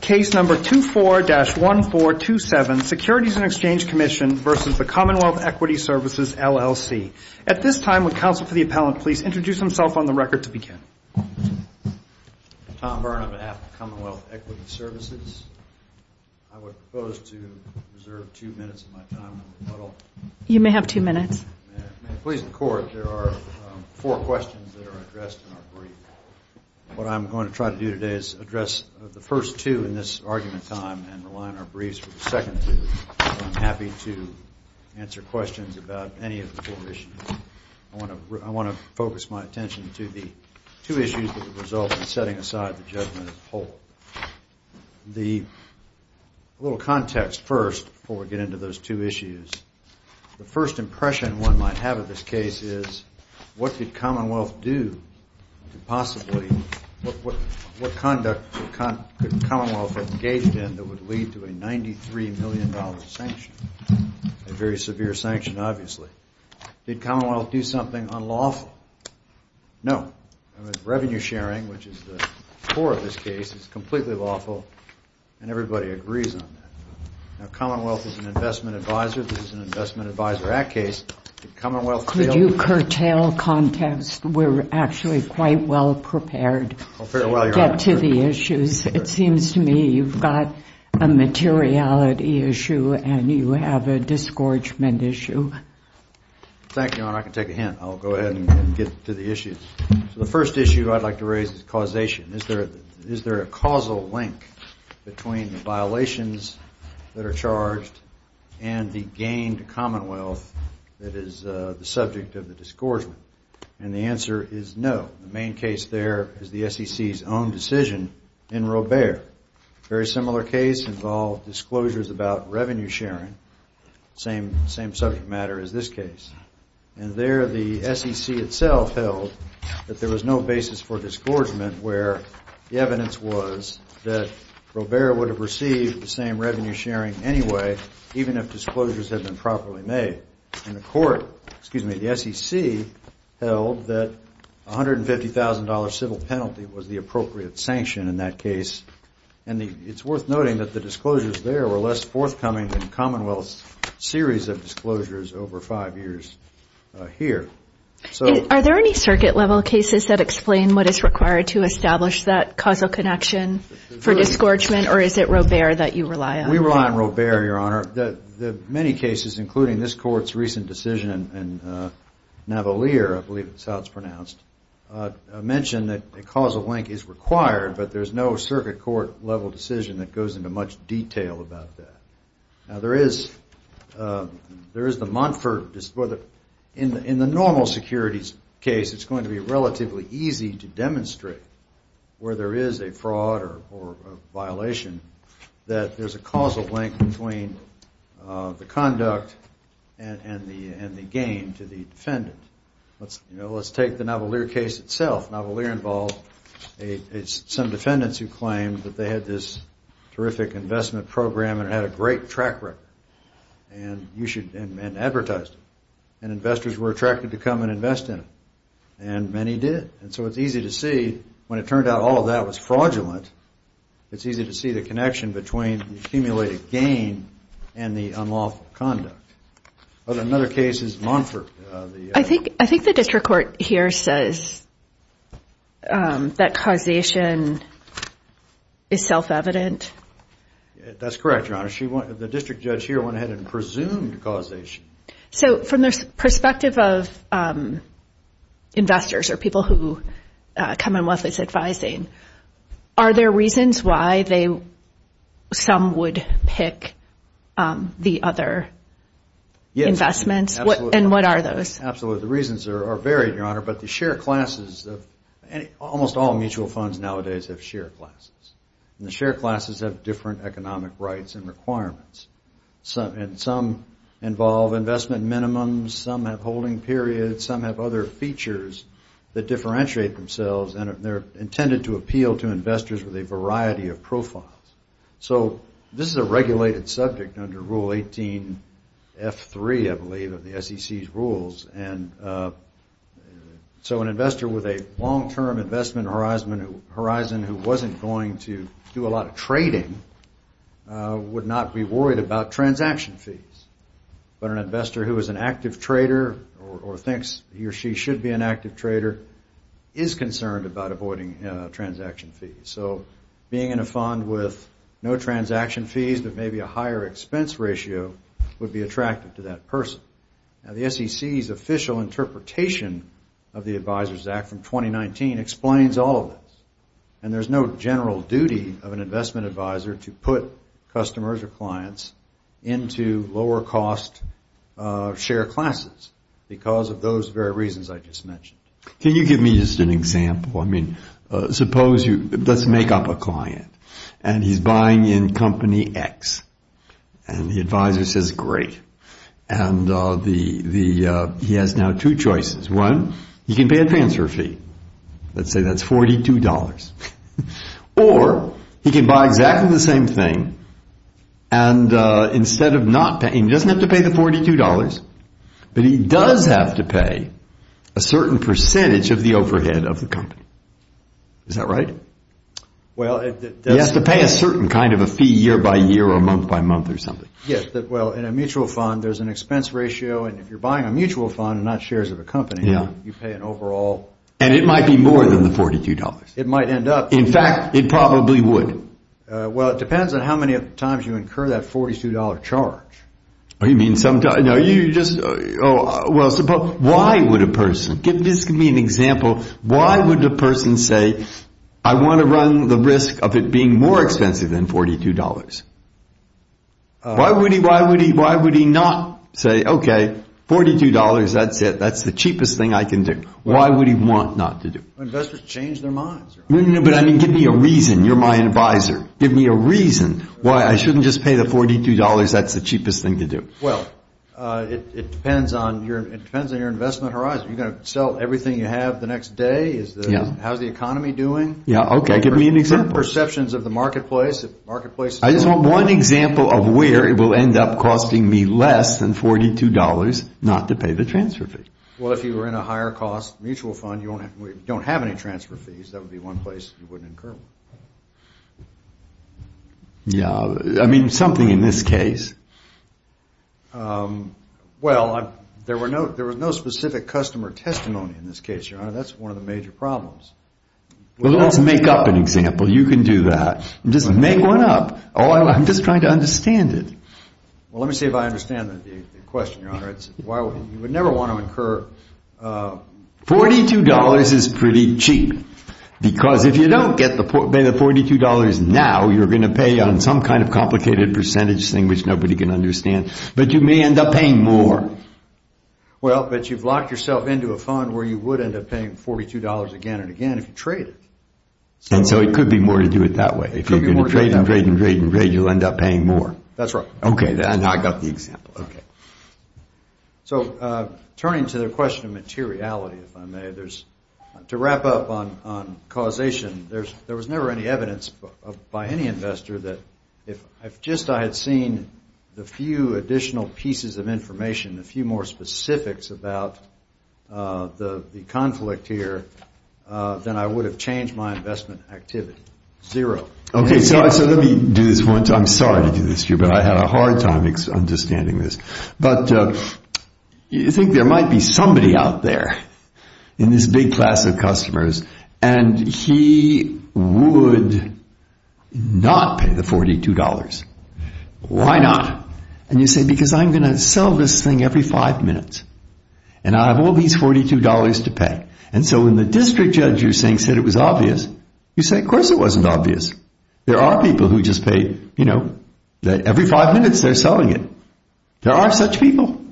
Case Number 24-1427, Securities and Exchange Commission versus the Commonwealth Equity Services, LLC. At this time, would counsel for the appellant please introduce himself on the record to begin. I'm Tom Byrne on behalf of Commonwealth Equity Services. I would propose to reserve two minutes of my time in the puddle. You may have two minutes. May it please the Court, there are four questions that are addressed in our brief. What I'm going to try to do today is address the first two in this argument time and rely on our briefs for the second two, so I'm happy to answer questions about any of the four issues. I want to focus my attention to the two issues that have resulted in setting aside the judgment of the whole. The little context first before we get into those two issues, the first impression one might have of this case is what did Commonwealth do to possibly, what conduct could Commonwealth have engaged in that would lead to a $93 million sanction, a very severe sanction obviously. Did Commonwealth do something unlawful? No. Revenue sharing, which is the core of this case, is completely lawful and everybody agrees on that. Now, Commonwealth is an investment advisor, this is an Investment Advisor Act case, did Commonwealth fail? Could you curtail context? We're actually quite well prepared to get to the issues. It seems to me you've got a materiality issue and you have a disgorgement issue. Thank you, Your Honor, I can take a hint. I'll go ahead and get to the issues. The first issue I'd like to raise is causation. Is there a causal link between the violations that are charged and the gain to Commonwealth that is the subject of the disgorgement? And the answer is no. The main case there is the SEC's own decision in Robert. Very similar case involved disclosures about revenue sharing, same subject matter as this case. And there the SEC itself held that there was no basis for disgorgement where the evidence was that Robert would have received the same revenue sharing anyway, even if disclosures had been properly made. And the court, excuse me, the SEC held that $150,000 civil penalty was the appropriate sanction in that case. And it's worth noting that the disclosures there were less forthcoming than Commonwealth's series of disclosures over five years here. Are there any circuit level cases that explain what is required to establish that causal connection for disgorgement or is it Robert that you rely on? We rely on Robert, Your Honor. The many cases, including this court's recent decision in Navalier, I believe that's how it's pronounced, mentioned that a causal link is required but there's no circuit court level decision that goes into much detail about that. Now, there is the Montford, in the normal securities case, it's going to be relatively easy to demonstrate where there is a fraud or a violation that there's a causal link between the conduct and the gain to the defendant. Let's take the Navalier case itself. Navalier involved some defendants who claimed that they had this terrific investment program and had a great track record and advertised it. And investors were attracted to come and invest in it. And many did. And so it's easy to see when it turned out all of that was fraudulent, it's easy to see the connection between the accumulated gain and the unlawful conduct. Another case is Montford. I think the district court here says that causation is self-evident. That's correct, Your Honor. The district judge here went ahead and presumed causation. So from the perspective of investors or people who come in with this advising, are there reasons why some would pick the other investments? And what are those? Absolutely. The reasons are varied, Your Honor. But the share classes, almost all mutual funds nowadays have share classes. And the share classes have different economic rights and requirements. And some involve investment minimums, some have holding periods, some have other features that differentiate themselves. And they're intended to appeal to investors with a variety of profiles. So this is a regulated subject under Rule 18F3, I believe, of the SEC's rules. And so an investor with a long-term investment horizon who wasn't going to do a lot of trading would not be worried about transaction fees. But an investor who is an active trader or thinks he or she should be an active trader is concerned about avoiding transaction fees. So being in a fund with no transaction fees but maybe a higher expense ratio would be attractive to that person. Now, the SEC's official interpretation of the Advisors Act from 2019 explains all of this. And there's no general duty of an investment advisor to put customers or clients into lower cost share classes because of those very reasons I just mentioned. Can you give me just an example? I mean, suppose you... Let's make up a client. And he's buying in company X. And the advisor says, great. And he has now two choices. One, he can pay a transfer fee. Let's say that's $42. Or he can buy exactly the same thing and instead of not paying, he doesn't have to pay the $42, but he does have to pay a certain percentage of the overhead of the company. Is that right? He has to pay a certain kind of a fee year by year or month by month or something. Yes. Well, in a mutual fund, there's an expense ratio. And if you're buying a mutual fund and not shares of a company, you pay an overall... And it might be more than the $42. It might end up... In fact, it probably would. Well, it depends on how many times you incur that $42 charge. Oh, you mean sometimes... No, you just... Oh, well, suppose... Why would a person... Give me an example. Why would a person say, I want to run the risk of it being more expensive than $42? Why would he not say, okay, $42, that's it. That's the cheapest thing I can do. Why would he want not to do it? Investors change their minds. No, no, no. But I mean, give me a reason. You're my advisor. Give me a reason why I shouldn't just pay the $42. That's the cheapest thing to do. Well, it depends on your investment horizon. Are you going to sell everything you have the next day? How's the economy doing? Yeah, okay. Give me an example. What are your perceptions of the marketplace? I just want one example of where it will end up costing me less than $42 not to pay the transfer fee. Well, if you were in a higher cost mutual fund, you don't have any transfer fees. That would be one place you wouldn't incur one. Yeah, I mean, something in this case. Well, there was no specific customer testimony in this case, Your Honor. That's one of the major problems. Well, let's make up an example. You can do that. Just make one up. I'm just trying to understand it. Well, let me see if I understand the question, Your Honor. You would never want to incur... $42 is pretty cheap because if you don't pay the $42 now, you're going to pay on some kind of complicated percentage thing which nobody can understand. But you may end up paying more. Well, but you've locked yourself into a fund where you would end up paying $42 again and again. If you trade it. And so it could be more to do it that way. If you're going to trade and trade and trade and trade, you'll end up paying more. That's right. Okay. Now I got the example. So turning to the question of materiality, if I may, to wrap up on causation, there was never any evidence by any investor that if just I had seen the few additional pieces of information, a few more specifics about the conflict here, then I would have changed my investment activity. Zero. Okay. So let me do this one. I'm sorry to do this to you, but I had a hard time understanding this. But you think there might be somebody out there in this big class of customers and he would not pay the $42. Why not? And you say, because I'm going to sell this thing every five minutes and I have all these $42 to pay. And so when the district judge you're saying said it was obvious, you say, of course it wasn't obvious. There are people who just pay, you know, that every five minutes they're selling it. There are such people.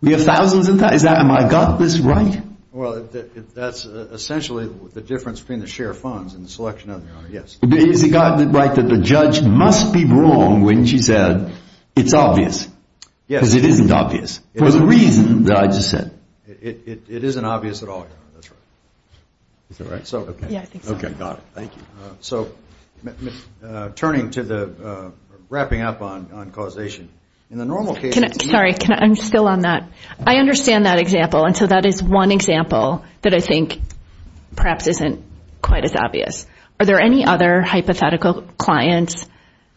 We have thousands and thousands. Have I got this right? Well, that's essentially the difference between the share of funds and the selection of the owner. Yes. Is it right that the judge must be wrong when she said it's obvious? Yes. Because it isn't obvious for the reason that I just said. It isn't obvious at all. Is that right? Yeah, I think so. Okay, got it. Thank you. So turning to the – wrapping up on causation. In the normal case – Sorry. I'm still on that. I understand that example. And so that is one example that I think perhaps isn't quite as obvious. Are there any other hypothetical clients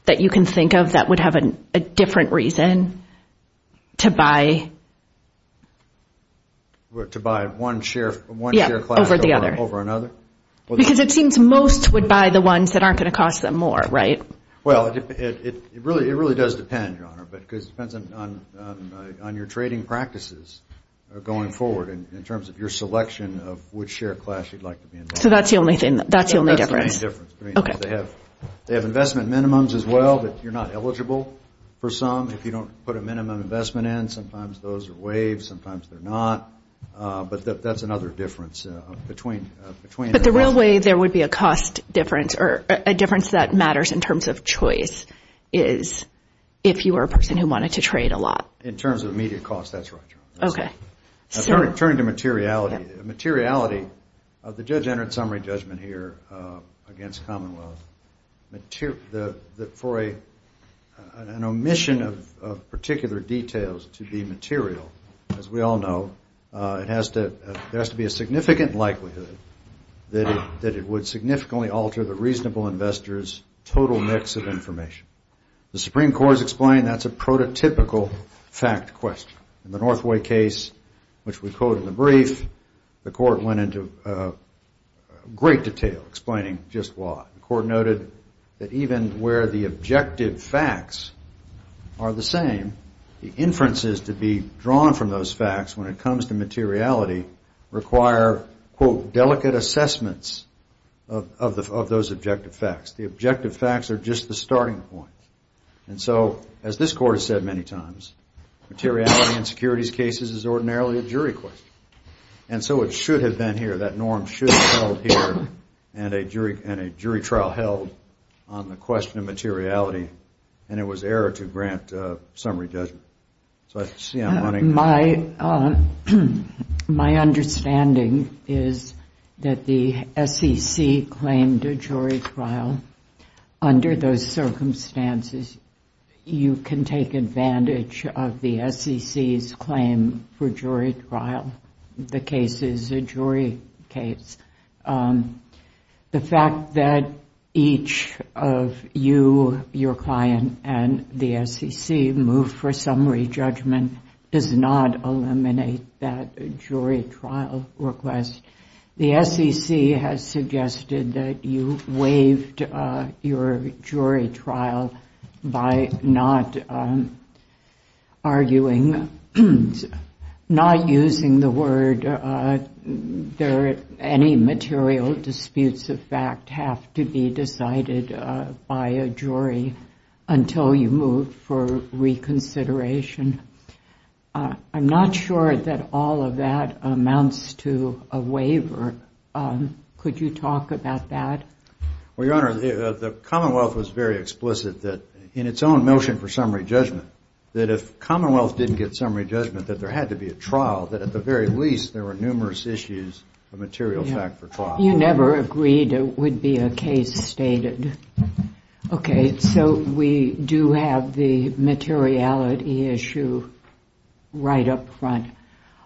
that you can think of that would have a different reason to buy – To buy one share – Yeah, over the other. One share class over another? Because it seems most would buy the ones that aren't going to cost them more, right? Well, it really does depend, Your Honor, because it depends on your trading practices going forward in terms of your selection of which share class you'd like to be involved in. So that's the only difference? That's the only difference. Okay. They have investment minimums as well that you're not eligible for some if you don't put a minimum investment in. Sometimes those are waived. Sometimes they're not. But that's another difference between – But the real way there would be a cost difference or a difference that matters in terms of choice is if you are a person who wanted to trade a lot. In terms of immediate cost, that's right, Your Honor. Okay. Turning to materiality, the judge entered a summary judgment here against Commonwealth for an omission of particular details to be material. As we all know, there has to be a significant likelihood that it would significantly alter the reasonable investor's total mix of information. The Supreme Court has explained that's a prototypical fact question. In the Northway case, which we quote in the brief, the court went into great detail explaining just why. The court noted that even where the objective facts are the same, the inferences to be drawn from those facts when it comes to materiality require, quote, delicate assessments of those objective facts. The objective facts are just the starting point. And so, as this court has said many times, materiality in securities cases is ordinarily a jury question. And so it should have been here, that norm should have held here, and a jury trial held on the question of materiality, and it was error to grant summary judgment. So I see I'm running – My understanding is that the SEC claimed a jury trial under those circumstances. You can take advantage of the SEC's claim for jury trial. The case is a jury case. The fact that each of you, your client, and the SEC moved for summary judgment does not eliminate that jury trial request. The SEC has suggested that you waived your jury trial by not arguing, not using the word. Any material disputes of fact have to be decided by a jury until you move for reconsideration. I'm not sure that all of that amounts to a waiver. Could you talk about that? Well, Your Honor, the Commonwealth was very explicit that in its own motion for summary judgment, that if Commonwealth didn't get summary judgment, that there had to be a trial, that at the very least, there were numerous issues of material fact for trial. You never agreed it would be a case stated. Okay, so we do have the materiality issue right up front.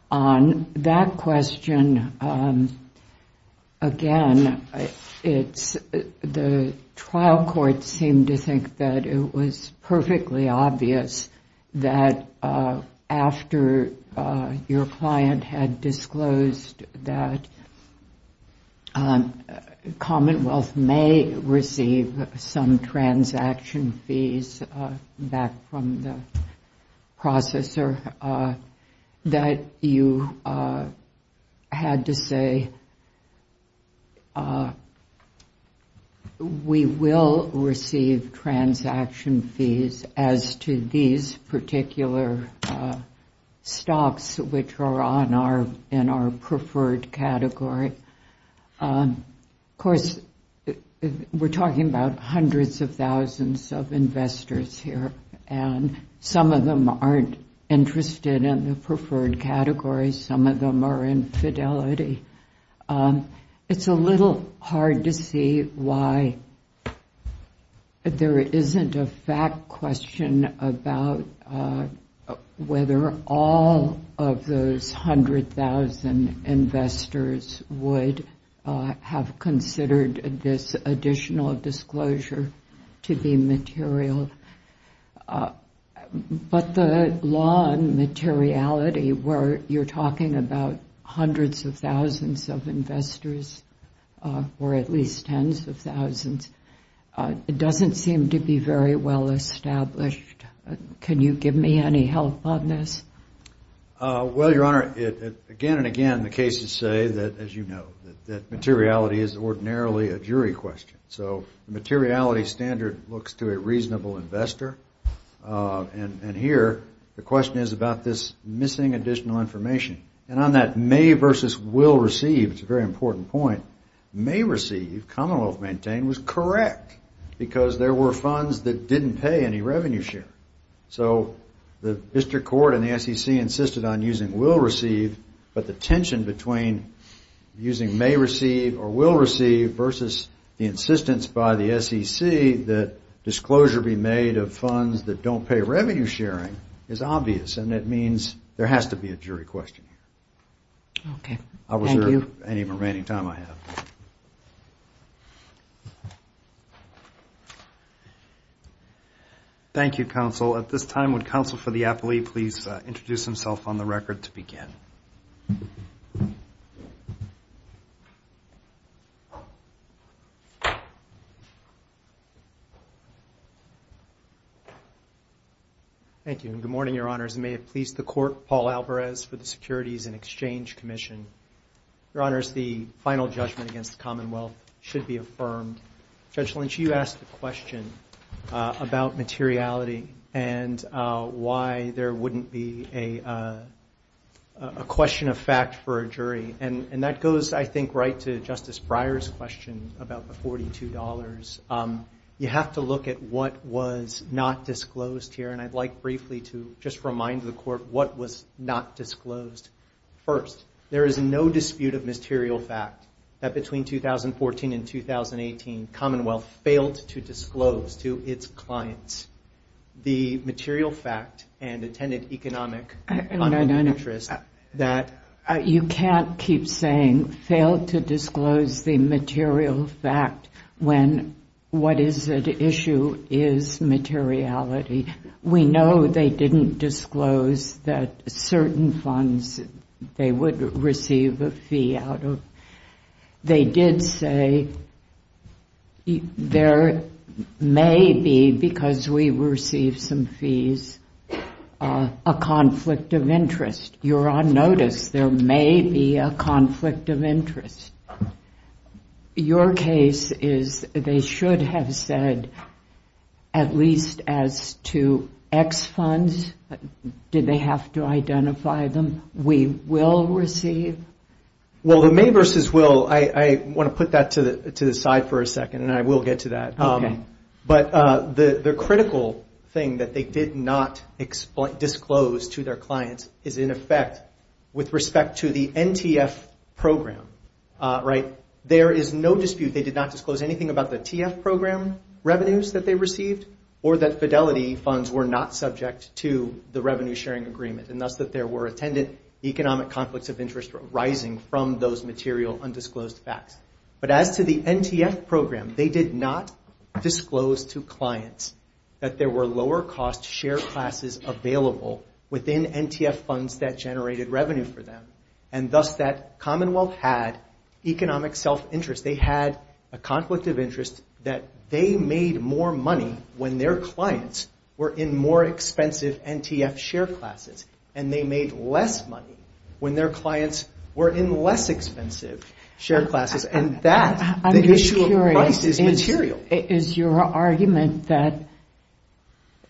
On that question, again, the trial court seemed to think that it was perfectly obvious that after your client had disclosed that Commonwealth may receive some transaction fees back from the processor, that you had to say, we will receive transaction fees as to these particular stocks, which are in our preferred category. Of course, we're talking about hundreds of thousands of investors here, and some of them aren't interested in the preferred category. Some of them are in fidelity. It's a little hard to see why there isn't a fact question about whether all of those 100,000 investors would have considered this additional disclosure to be material. But the law on materiality, where you're talking about hundreds of thousands of investors, or at least tens of thousands, doesn't seem to be very well established. Can you give me any help on this? Well, Your Honor, again and again, the cases say, as you know, that materiality is ordinarily a jury question. So the materiality standard looks to a reasonable investor. And here, the question is about this missing additional information. And on that may versus will receive, it's a very important point, may receive, commonwealth maintained, was correct, because there were funds that didn't pay any revenue share. So the district court and the SEC insisted on using will receive, but the tension between using may receive or will receive versus the insistence by the SEC that disclosure be made of funds that don't pay revenue sharing is obvious. And that means there has to be a jury question here. Okay. Thank you. I'll reserve any remaining time I have. Thank you, counsel. At this time, would counsel for the appellee please introduce himself on the record to begin? Thank you, and good morning, Your Honors. And may it please the court, Paul Alvarez for the Securities and Exchange Commission. Your Honors, the final judgment against the commonwealth should be affirmed. Judge Lynch, you asked a question about materiality and why there wouldn't be a question of fact for a jury. And that goes, I think, right to Justice Breyer's question about the $42. You have to look at what was not disclosed here. And I'd like briefly to just remind the court what was not disclosed. First, there is no dispute of material fact that between 2014 and 2018, commonwealth failed to disclose to its clients the material fact and attended economic... No, no, no, no. ...that... You can't keep saying failed to disclose the material fact when what is at issue is materiality. We know they didn't disclose that certain funds, they would receive a fee out of... They did say, there may be, because we received some fees, a conflict of interest. You're on notice. There may be a conflict of interest. Your case is they should have said at least as to X funds. Did they have to identify them? We will receive? Well, the may versus will, I want to put that to the side for a second, and I will get to that. Okay. But the critical thing that they did not disclose to their clients is in effect with respect to the NTF program, right? There is no dispute they did not disclose anything about the TF program revenues that they received or that fidelity funds were not subject to the revenue-sharing agreement, and thus that there were attended economic conflicts of interest arising from those material undisclosed facts. But as to the NTF program, they did not disclose to clients that there were lower-cost share classes available within NTF funds that generated revenue for them, and thus that Commonwealth had economic self-interest. They had a conflict of interest that they made more money when their clients were in more expensive NTF share classes, and they made less money when their clients were in less expensive share classes, and that, the issue of price, is material. Is your argument that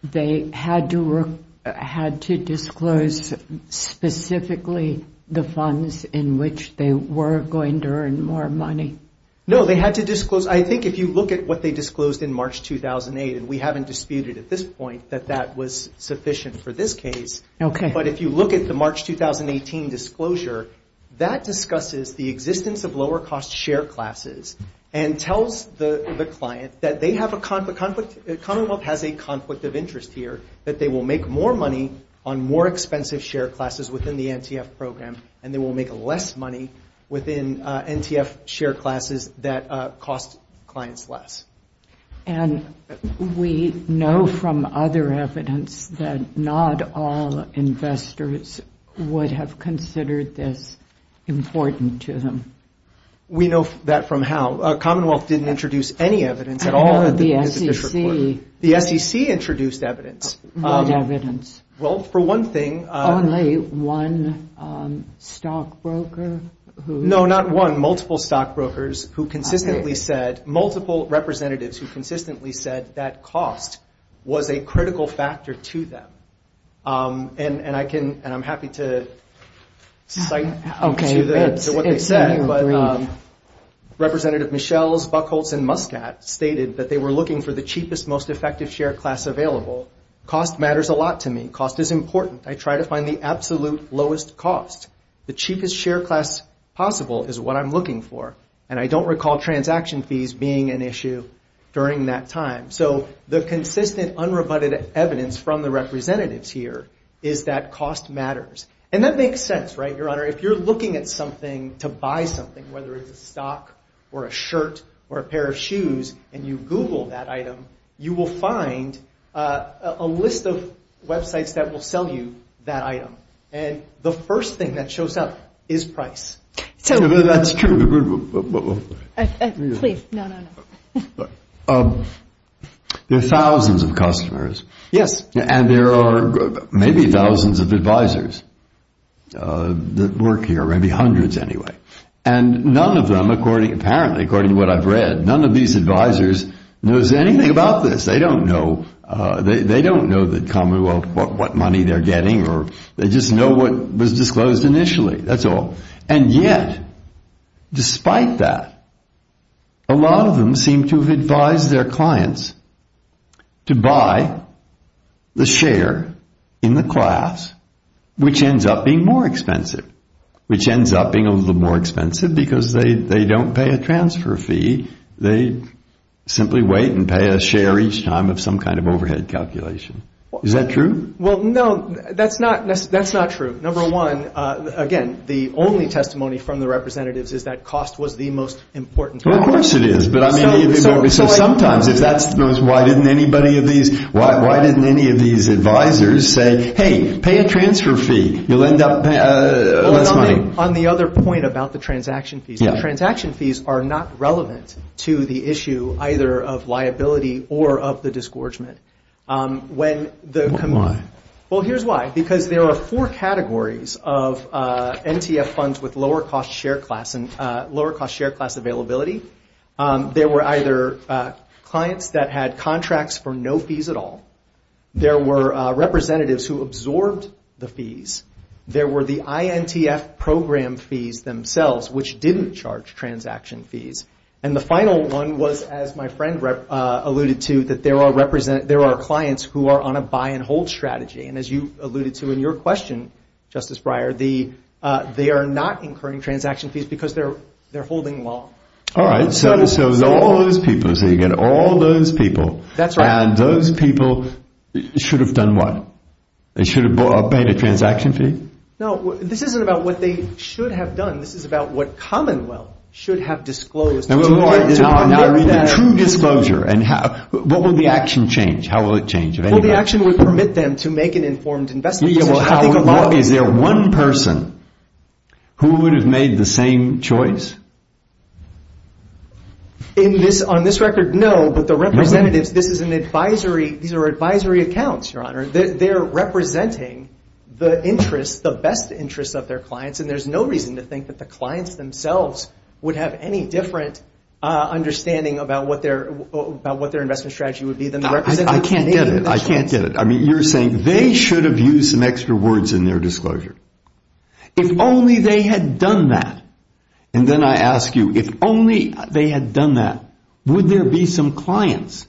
they had to disclose specifically the funds in which they were going to earn more money? No, they had to disclose. I think if you look at what they disclosed in March 2008, and we haven't disputed at this point that that was sufficient for this case. Okay. But if you look at the March 2018 disclosure, that discusses the existence of lower-cost share classes and tells the client that they have a conflict... Commonwealth has a conflict of interest here that they will make more money on more expensive share classes within the NTF program, and they will make less money within NTF share classes that cost clients less. And we know from other evidence that not all investors would have considered this important to them. We know that from how... Commonwealth didn't introduce any evidence at all... The SEC. The SEC introduced evidence. Well, for one thing... Only one stockbroker who... No, not one, multiple stockbrokers who consistently said... multiple representatives who consistently said that cost was a critical factor to them. And I'm happy to cite... to what they said, but... Representative Michels, Buchholz, and Muscat stated that they were looking for the cheapest, most effective share class available. Cost matters a lot to me. Cost is important. I try to find the absolute lowest cost. The cheapest share class possible is what I'm looking for, and I don't recall transaction fees being an issue during that time. So the consistent, unrebutted evidence from the representatives here is that cost matters. And that makes sense, right, Your Honor? If you're looking at something to buy something, whether it's a stock or a shirt or a pair of shoes, and you Google that item, you will find a list of websites that will sell you that item. And the first thing that shows up is price. So... That's true. Please, no, no, no. There are thousands of customers. Yes. And there are maybe thousands of advisors. That work here. Maybe hundreds, anyway. And none of them, apparently, according to what I've read, none of these advisors knows anything about this. They don't know the Commonwealth, what money they're getting, or they just know what was disclosed initially. That's all. And yet, despite that, a lot of them seem to have advised their clients to buy the share in the class which ends up being more expensive. Which ends up being a little more expensive because they don't pay a transfer fee. They simply wait and pay a share each time of some kind of overhead calculation. Is that true? Well, no, that's not true. Number one, again, the only testimony from the representatives is that cost was the most important factor. Well, of course it is. But I mean, sometimes if that's... Why didn't anybody of these... Why didn't any of these advisors say, hey, pay a transfer fee. You'll end up with less money. On the other point about the transaction fees, the transaction fees are not relevant to the issue either of liability or of the disgorgement. When the... Why? Well, here's why. Because there are four categories of NTF funds with lower cost share class and lower cost share class availability. There were either clients that had contracts for no fees at all. There were representatives who absorbed the fees. There were the INTF program fees themselves which didn't charge transaction fees. And the final one was, as my friend alluded to, that there are clients who are on a buy and hold strategy. And as you alluded to in your question, Justice Breyer, they are not incurring transaction fees because they're holding long. All right. So all those people, so you get all those people. That's right. And those people should have done what? They should have paid a transaction fee? No. This isn't about what they should have done. This is about what Commonwealth should have disclosed. True disclosure. What will the action change? How will it change? The action would permit them to make an informed investment decision. Is there one person who would have made the same choice? On this record, no. But the representatives, this is an advisory, these are advisory accounts, Your Honor. They're representing the interests, the best interests of their clients, and there's no reason to think that the clients themselves would have any different understanding about what their investment strategy would be than the representatives. I can't get it. I can't get it. I mean, you're saying they should have used some extra words in their disclosure. If only they had done that, and then I ask you, if only they had done that, would there be some clients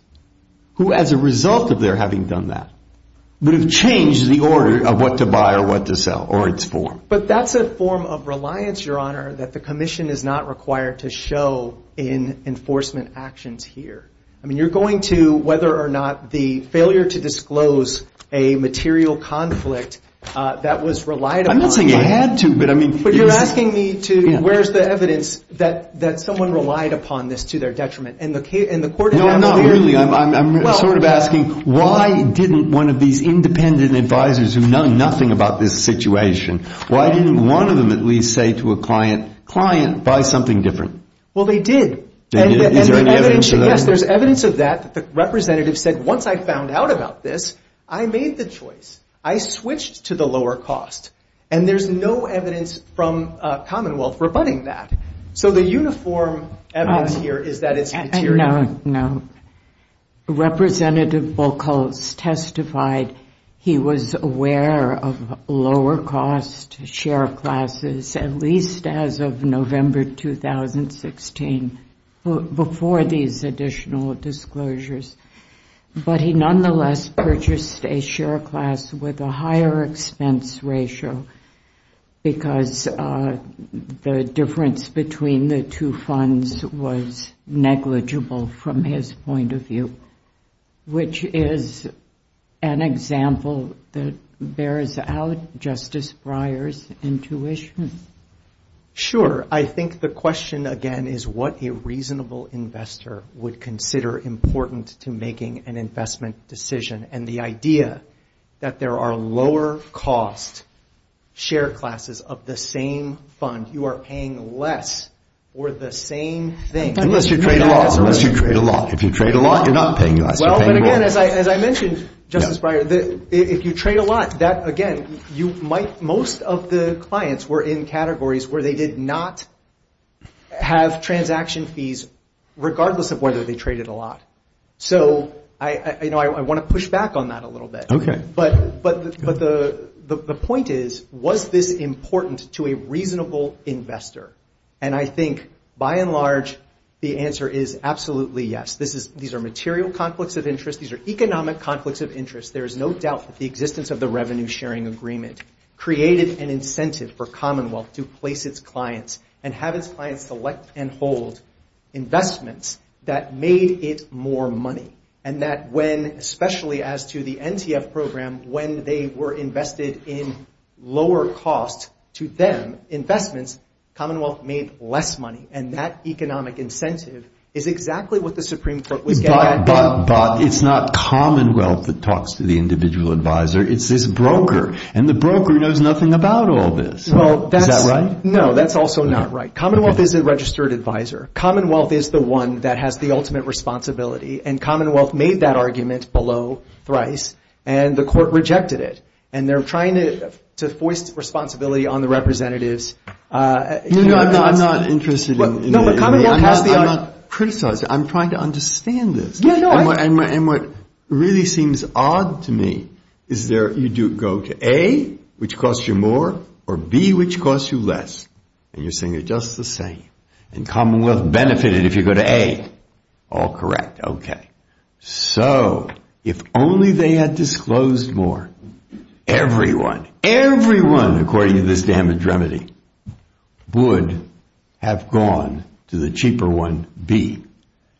who as a result of their having done that would have changed the order of what to buy or what to sell, or its form? But that's a form of reliance, Your Honor, that the Commission is not required to show in enforcement actions here. I mean, you're going to, whether or not the failure to disclose a material conflict that was relied upon... I'm not saying it had to, but I mean... But you're asking me to, where's the evidence that someone relied upon this to their detriment? And the court... No, not really. I'm sort of asking, why didn't one of these independent advisors who know nothing about this situation, why didn't one of them at least say to a client, client, buy something different? Well, they did. Is there any evidence of that? Yes, there's evidence of that. The representative said, once I found out about this, I made the choice. I switched to the lower cost. And there's no evidence from Commonwealth rebutting that. So the uniform evidence here is that it's material. No, no. Representative Volkholz testified he was aware of lower cost share classes, at least as of November 2016, before these additional disclosures. But he nonetheless purchased a share class with a higher expense ratio because the difference between the two funds was negligible from his point of view, which is an example that bears out Justice Breyer's intuition. Sure. I think the question, again, is what a reasonable investor would consider important to making an investment decision. And the idea that there are lower costs share classes of the same fund, you are paying less for the same thing. Unless you trade a lot. Unless you trade a lot. If you trade a lot, you're not paying less. Well, and again, as I mentioned, Justice Breyer, if you trade a lot, that, again, most of the clients were in categories where they did not have transaction fees regardless of whether they traded a lot. So I want to push back on that a little bit. Okay. But the point is, was this important to a reasonable investor? And I think, by and large, the answer is absolutely yes. These are material conflicts of interest. These are economic conflicts of interest. There is no doubt that the existence of the revenue sharing agreement created an incentive for Commonwealth to place its clients and have its clients select and hold investments that made it more money. And that when, especially as to the NTF program, when they were invested in lower cost, to them, investments, Commonwealth made less money. And that economic incentive is exactly what the Supreme Court was getting at. But it's not Commonwealth that talks to the individual advisor. It's this broker. And the broker knows nothing about all this. Is that right? No, that's also not right. Commonwealth is a registered advisor. Commonwealth is the one that has the ultimate responsibility. And Commonwealth made that argument below thrice. And the court rejected it. And they're trying to foist responsibility on the representatives. No, no, I'm not interested in that. I'm not criticizing. I'm trying to understand this. And what really seems odd to me is you go to A, which costs you more, or B, which costs you less. And you're saying they're just the same. And Commonwealth benefited if you go to A. All correct, okay. So if only they had disclosed more, everyone, everyone, according to this damage remedy, would have gone to the cheaper one, B.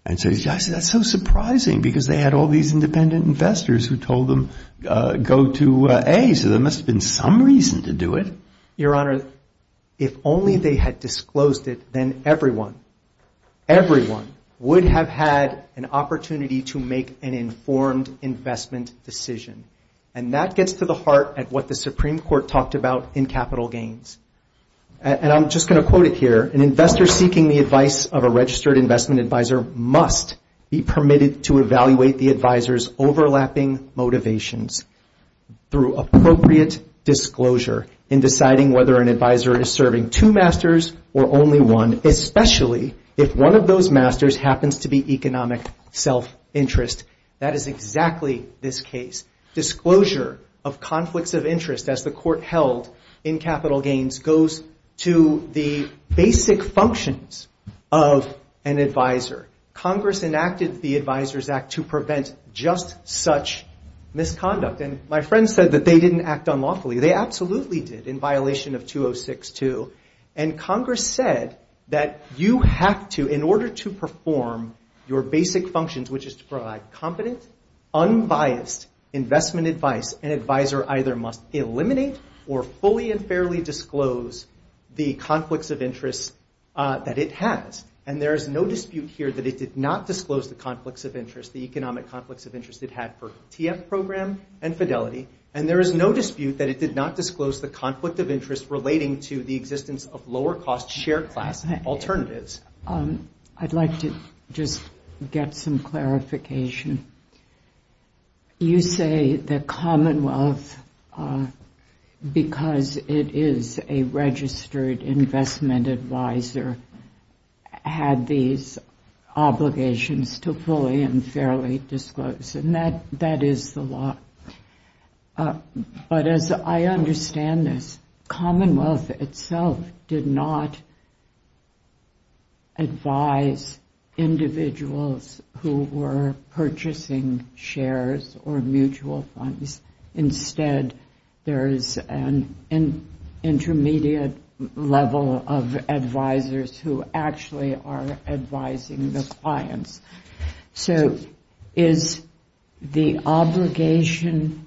And so you say, that's so surprising because they had all these independent investors who told them go to A. So there must have been some reason to do it. Your Honor, if only they had disclosed it, then everyone, everyone, would have had an opportunity to make an informed investment decision. And that gets to the heart of what the Supreme Court talked about in capital gains. And I'm just going to quote it here. An investor seeking the advice of a registered investment advisor must be permitted to evaluate the advisor's overlapping motivations through appropriate disclosure in deciding whether an advisor is serving two masters or only one, especially if one of those masters happens to be economic self-interest. That is exactly this case. Disclosure of conflicts of interest, as the Court held in capital gains, goes to the basic functions of an advisor. Congress enacted the Advisors Act to prevent just such misconduct. And my friends said that they didn't act unlawfully. They absolutely did, in violation of 206-2. And Congress said that you have to, in order to perform your basic functions, which is to provide competent, unbiased investment advice, an advisor either must eliminate or fully and fairly disclose the conflicts of interest that it has. And there is no dispute here that it did not disclose the conflicts of interest, the economic conflicts of interest it had for TF program and Fidelity. And there is no dispute that it did not disclose the conflict of interest relating to the existence of lower-cost share class alternatives. I'd like to just get some clarification. You say the Commonwealth, because it is a registered investment advisor, had these obligations to fully and fairly disclose. And that is the law. But as I understand this, Commonwealth itself did not advise individuals who were purchasing shares or mutual funds. Instead, there is an intermediate level of advisors who actually are advising the clients. So is the obligation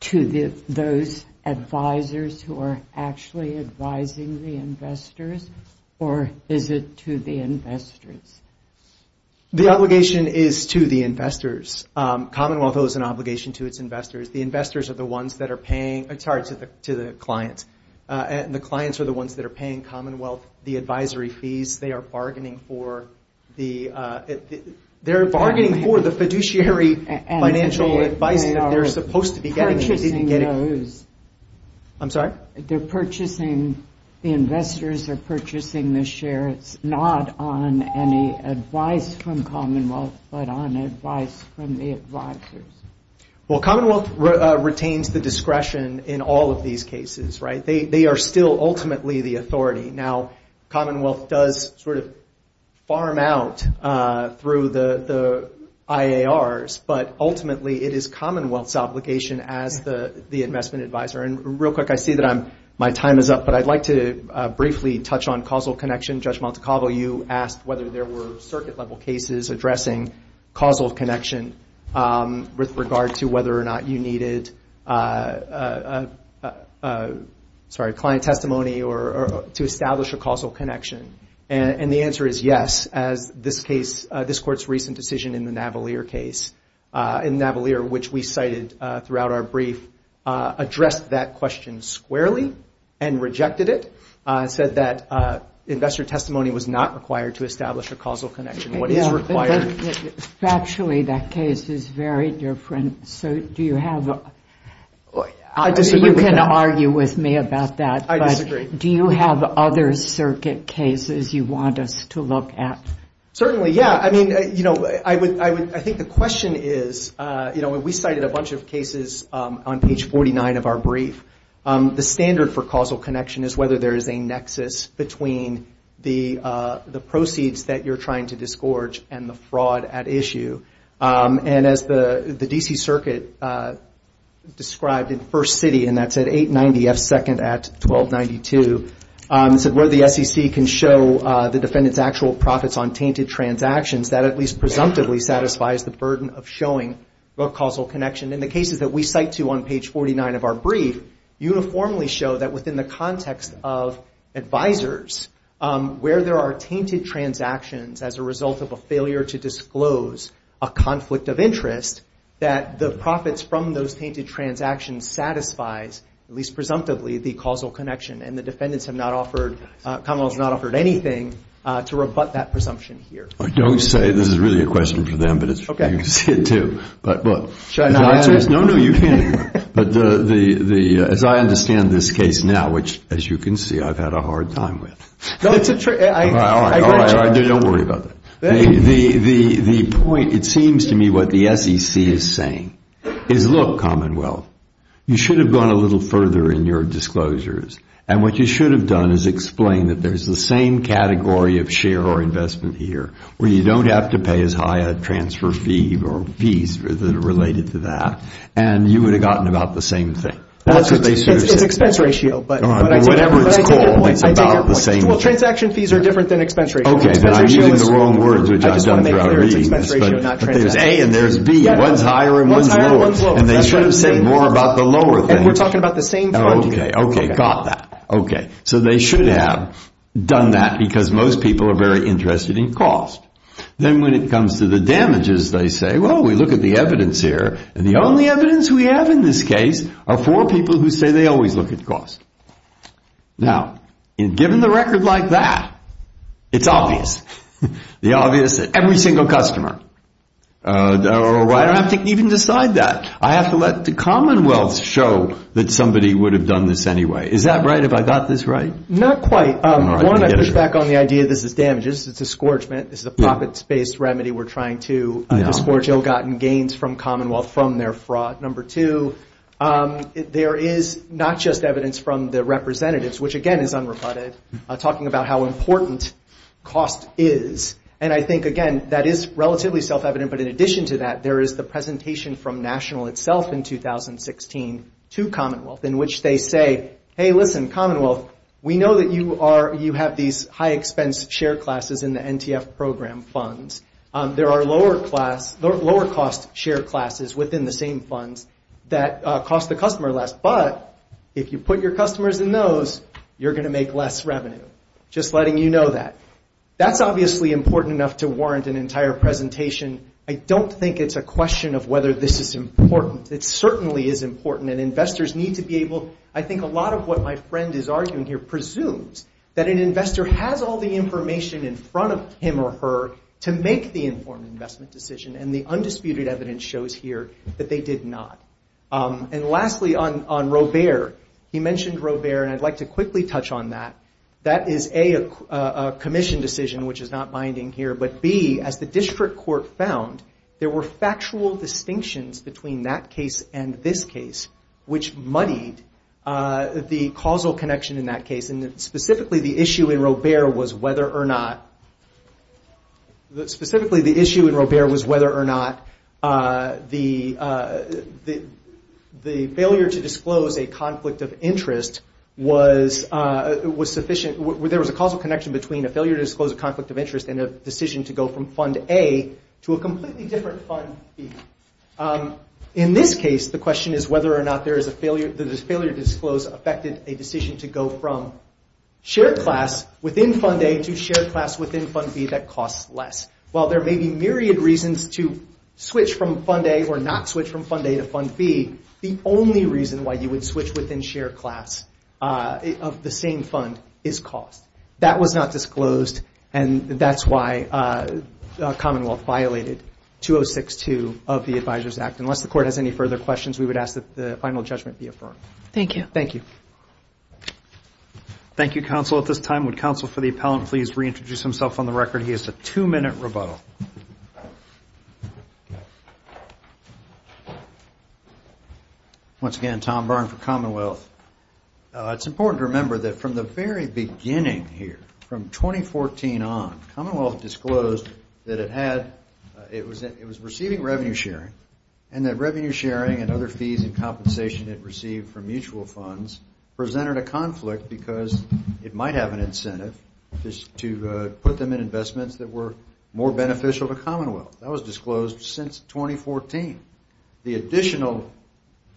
to those advisors who are actually advising the investors, or is it to the investors? The obligation is to the investors. Commonwealth owes an obligation to its investors. The investors are the ones that are paying, sorry, to the clients. And the clients are the ones that are paying Commonwealth the advisory fees. They are bargaining for the fiduciary financial advice that they're supposed to be getting. I'm sorry? They're purchasing, the investors are purchasing the shares, not on any advice from Commonwealth, but on advice from the advisors. Well, Commonwealth retains the discretion in all of these cases, right? They are still ultimately the authority. Now, Commonwealth does sort of farm out through the IARs, but ultimately it is Commonwealth's obligation as the investment advisor. And real quick, I see that my time is up, but I'd like to briefly touch on causal connection. Judge Montecavo, you asked whether there were circuit-level cases addressing causal connection with regard to whether or not you needed, sorry, client testimony to establish a causal connection. And the answer is yes, as this case, this Court's recent decision in the Navalier case, in Navalier, which we cited throughout our brief, addressed that question squarely and rejected it. It said that investor testimony was not required to establish a causal connection. What is required? Factually, that case is very different. So do you have... You can argue with me about that. I disagree. Do you have other circuit cases you want us to look at? Certainly, yeah. I mean, you know, I think the question is, you know, we cited a bunch of cases on page 49 of our brief. The standard for causal connection is whether there is a nexus between the proceeds that you're trying to disgorge and the fraud at issue. And as the D.C. Circuit described in First City, and that's at 890 F. Second at 1292, it said where the SEC can show the defendant's actual profits on tainted transactions, that at least presumptively satisfies the burden of showing a causal connection. And the cases that we cite to on page 49 of our brief uniformly show that within the context of advisors, where there are tainted transactions as a result of a failure to disclose a conflict of interest, that the profits from those tainted transactions satisfies, at least presumptively, the causal connection. And the defendants have not offered... Commonwealth has not offered anything to rebut that presumption here. Don't say... This is really a question for them, but you can see it too. But, look... Should I not answer it? No, no, you can. But the... As I understand this case now, which, as you can see, I've had a hard time with. No, it's a... I... Don't worry about that. The point, it seems to me, what the SEC is saying is, look, Commonwealth, you should have gone a little further in your disclosures, and what you should have done is explained that there's the same category of share or investment here, where you don't have to pay as high a transfer fee or fees that are related to that, and you would have gotten about the same thing. That's what they should have said. It's expense ratio, but... Whatever it's called, it's about the same thing. Well, transaction fees are different than expense ratio. Okay, but I'm using the wrong words, which I've done throughout reading this, but there's A and there's B, and one's higher and one's lower, and they should have said more about the lower thing. And we're talking about the same fund here. Okay, okay, got that. Okay, so they should have done that because most people are very interested in cost. Then when it comes to the damages, they say, well, we look at the evidence here, and the only evidence we have in this case are four people who say they always look at cost. Now, given the record like that, it's obvious, the obvious that every single customer... I don't have to even decide that. I have to let the Commonwealth show that somebody would have done this anyway. Is that right? Have I got this right? Not quite. One, I push back on the idea this is damages. It's a scorchment. This is a profits-based remedy. We're trying to disgorge ill-gotten gains from Commonwealth from their fraud. Number two, there is not just evidence from the representatives, which, again, is unrebutted, talking about how important cost is, and I think, again, that is relatively self-evident, but in addition to that, there is the presentation from National itself in 2016 to Commonwealth in which they say, hey, listen, Commonwealth, we know that you have these high-expense share classes in the NTF program funds. There are lower-cost share classes within the same funds that cost the customer less, but if you put your customers in those, you're going to make less revenue. Just letting you know that. That's obviously important enough to warrant an entire presentation. I don't think it's a question of whether this is important. It certainly is important, and investors need to be able... I think a lot of what my friend is arguing here presumes that an investor has all the information in front of him or her to make the informed investment decision, and the undisputed evidence shows here that they did not. And lastly, on Robert, he mentioned Robert, and I'd like to quickly touch on that. That is, A, a commission decision, which is not binding here, but, B, as the district court found, there were factual distinctions between that case and this case which muddied the causal connection in that case, and specifically the issue in Robert was whether or not... Specifically, the issue in Robert was whether or not the failure to disclose a conflict of interest was sufficient... There was a causal connection between a failure to disclose a conflict of interest and a decision to go from Fund A to a completely different Fund B. In this case, the question is whether or not there is a failure to disclose affected a decision to go from share class within Fund A to share class within Fund B that costs less. While there may be myriad reasons to switch from Fund A or not switch from Fund A to Fund B, the only reason why you would switch within share class of the same fund is cost. That was not disclosed, and that's why Commonwealth violated 2062 of the Advisors Act. Unless the Court has any further questions, we would ask that the final judgment be affirmed. Thank you. Thank you. Thank you, Counsel. At this time, would Counsel for the Appellant please reintroduce himself on the record? He has a two-minute rebuttal. Once again, Tom Byrne for Commonwealth. It's important to remember that from the very beginning here, from 2014 on, Commonwealth disclosed that it was receiving revenue sharing and that revenue sharing and other fees and compensation it received from mutual funds presented a conflict because it might have an incentive to put them in investments that were more beneficial to Commonwealth. That was disclosed since 2014. The additional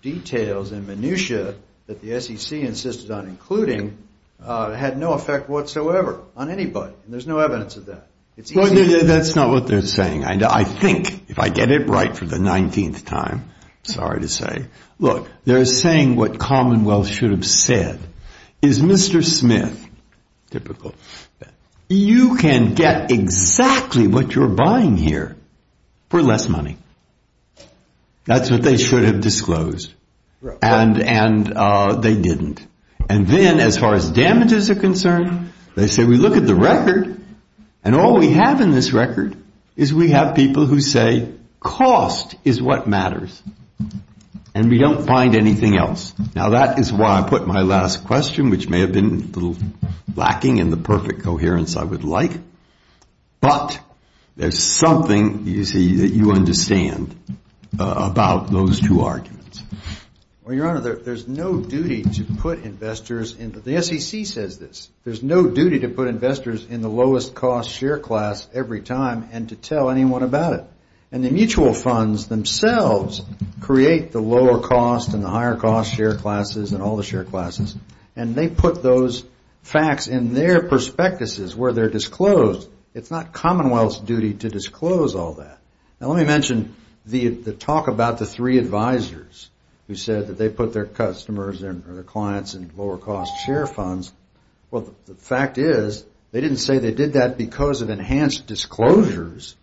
details and minutia that the SEC insisted on including had no effect whatsoever on anybody, and there's no evidence of that. That's not what they're saying. I think, if I get it right for the 19th time, sorry to say, look, they're saying what Commonwealth should have said. Is Mr. Smith typical? You can get exactly what you're buying here for less money. That's what they should have disclosed, and they didn't. And then, as far as damages are concerned, they say we look at the record, and all we have in this record is we have people who say cost is what matters, and we don't find anything else. Now, that is why I put my last question, which may have been a little lacking in the perfect coherence I would like, but there's something, you see, that you understand about those two arguments. Well, Your Honor, there's no duty to put investors in... The SEC says this. There's no duty to put investors in the lowest-cost share class every time and to tell anyone about it. And the mutual funds themselves create the lower-cost and the higher-cost share classes and all the share classes, and they put those facts in their prospectuses where they're disclosed. It's not Commonwealth's duty to disclose all that. Now, let me mention the talk about the three advisors who said that they put their customers or their clients in lower-cost share funds. Well, the fact is they didn't say they did that because of enhanced disclosures.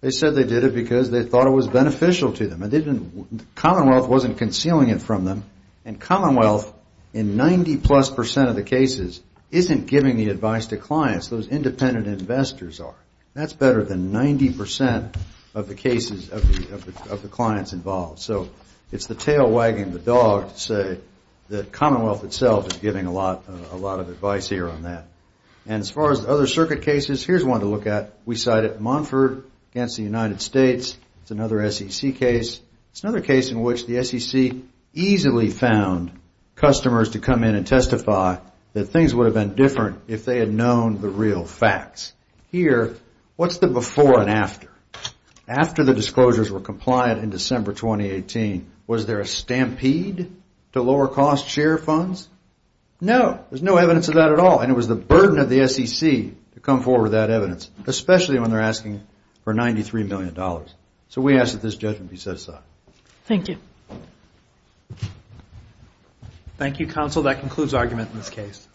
They said they did it because they thought it was beneficial to them. Commonwealth wasn't concealing it from them, and Commonwealth, in 90-plus percent of the cases, isn't giving the advice to clients. Those independent investors are. That's better than 90% of the cases of the clients involved. So it's the tail wagging the dog to say that Commonwealth itself is giving a lot of advice here on that. And as far as other circuit cases, here's one to look at. We cited Montford against the United States. It's another SEC case. It's another case in which the SEC easily found customers to come in and testify that things would have been different if they had known the real facts. Here, what's the before and after? After the disclosures were compliant in December 2018, was there a stampede to lower-cost share funds? No, there's no evidence of that at all, and it was the burden of the SEC to come forward with that evidence, especially when they're asking for $93 million. So we ask that this judgment be set aside. Thank you. Thank you, Counsel. That concludes argument in this case.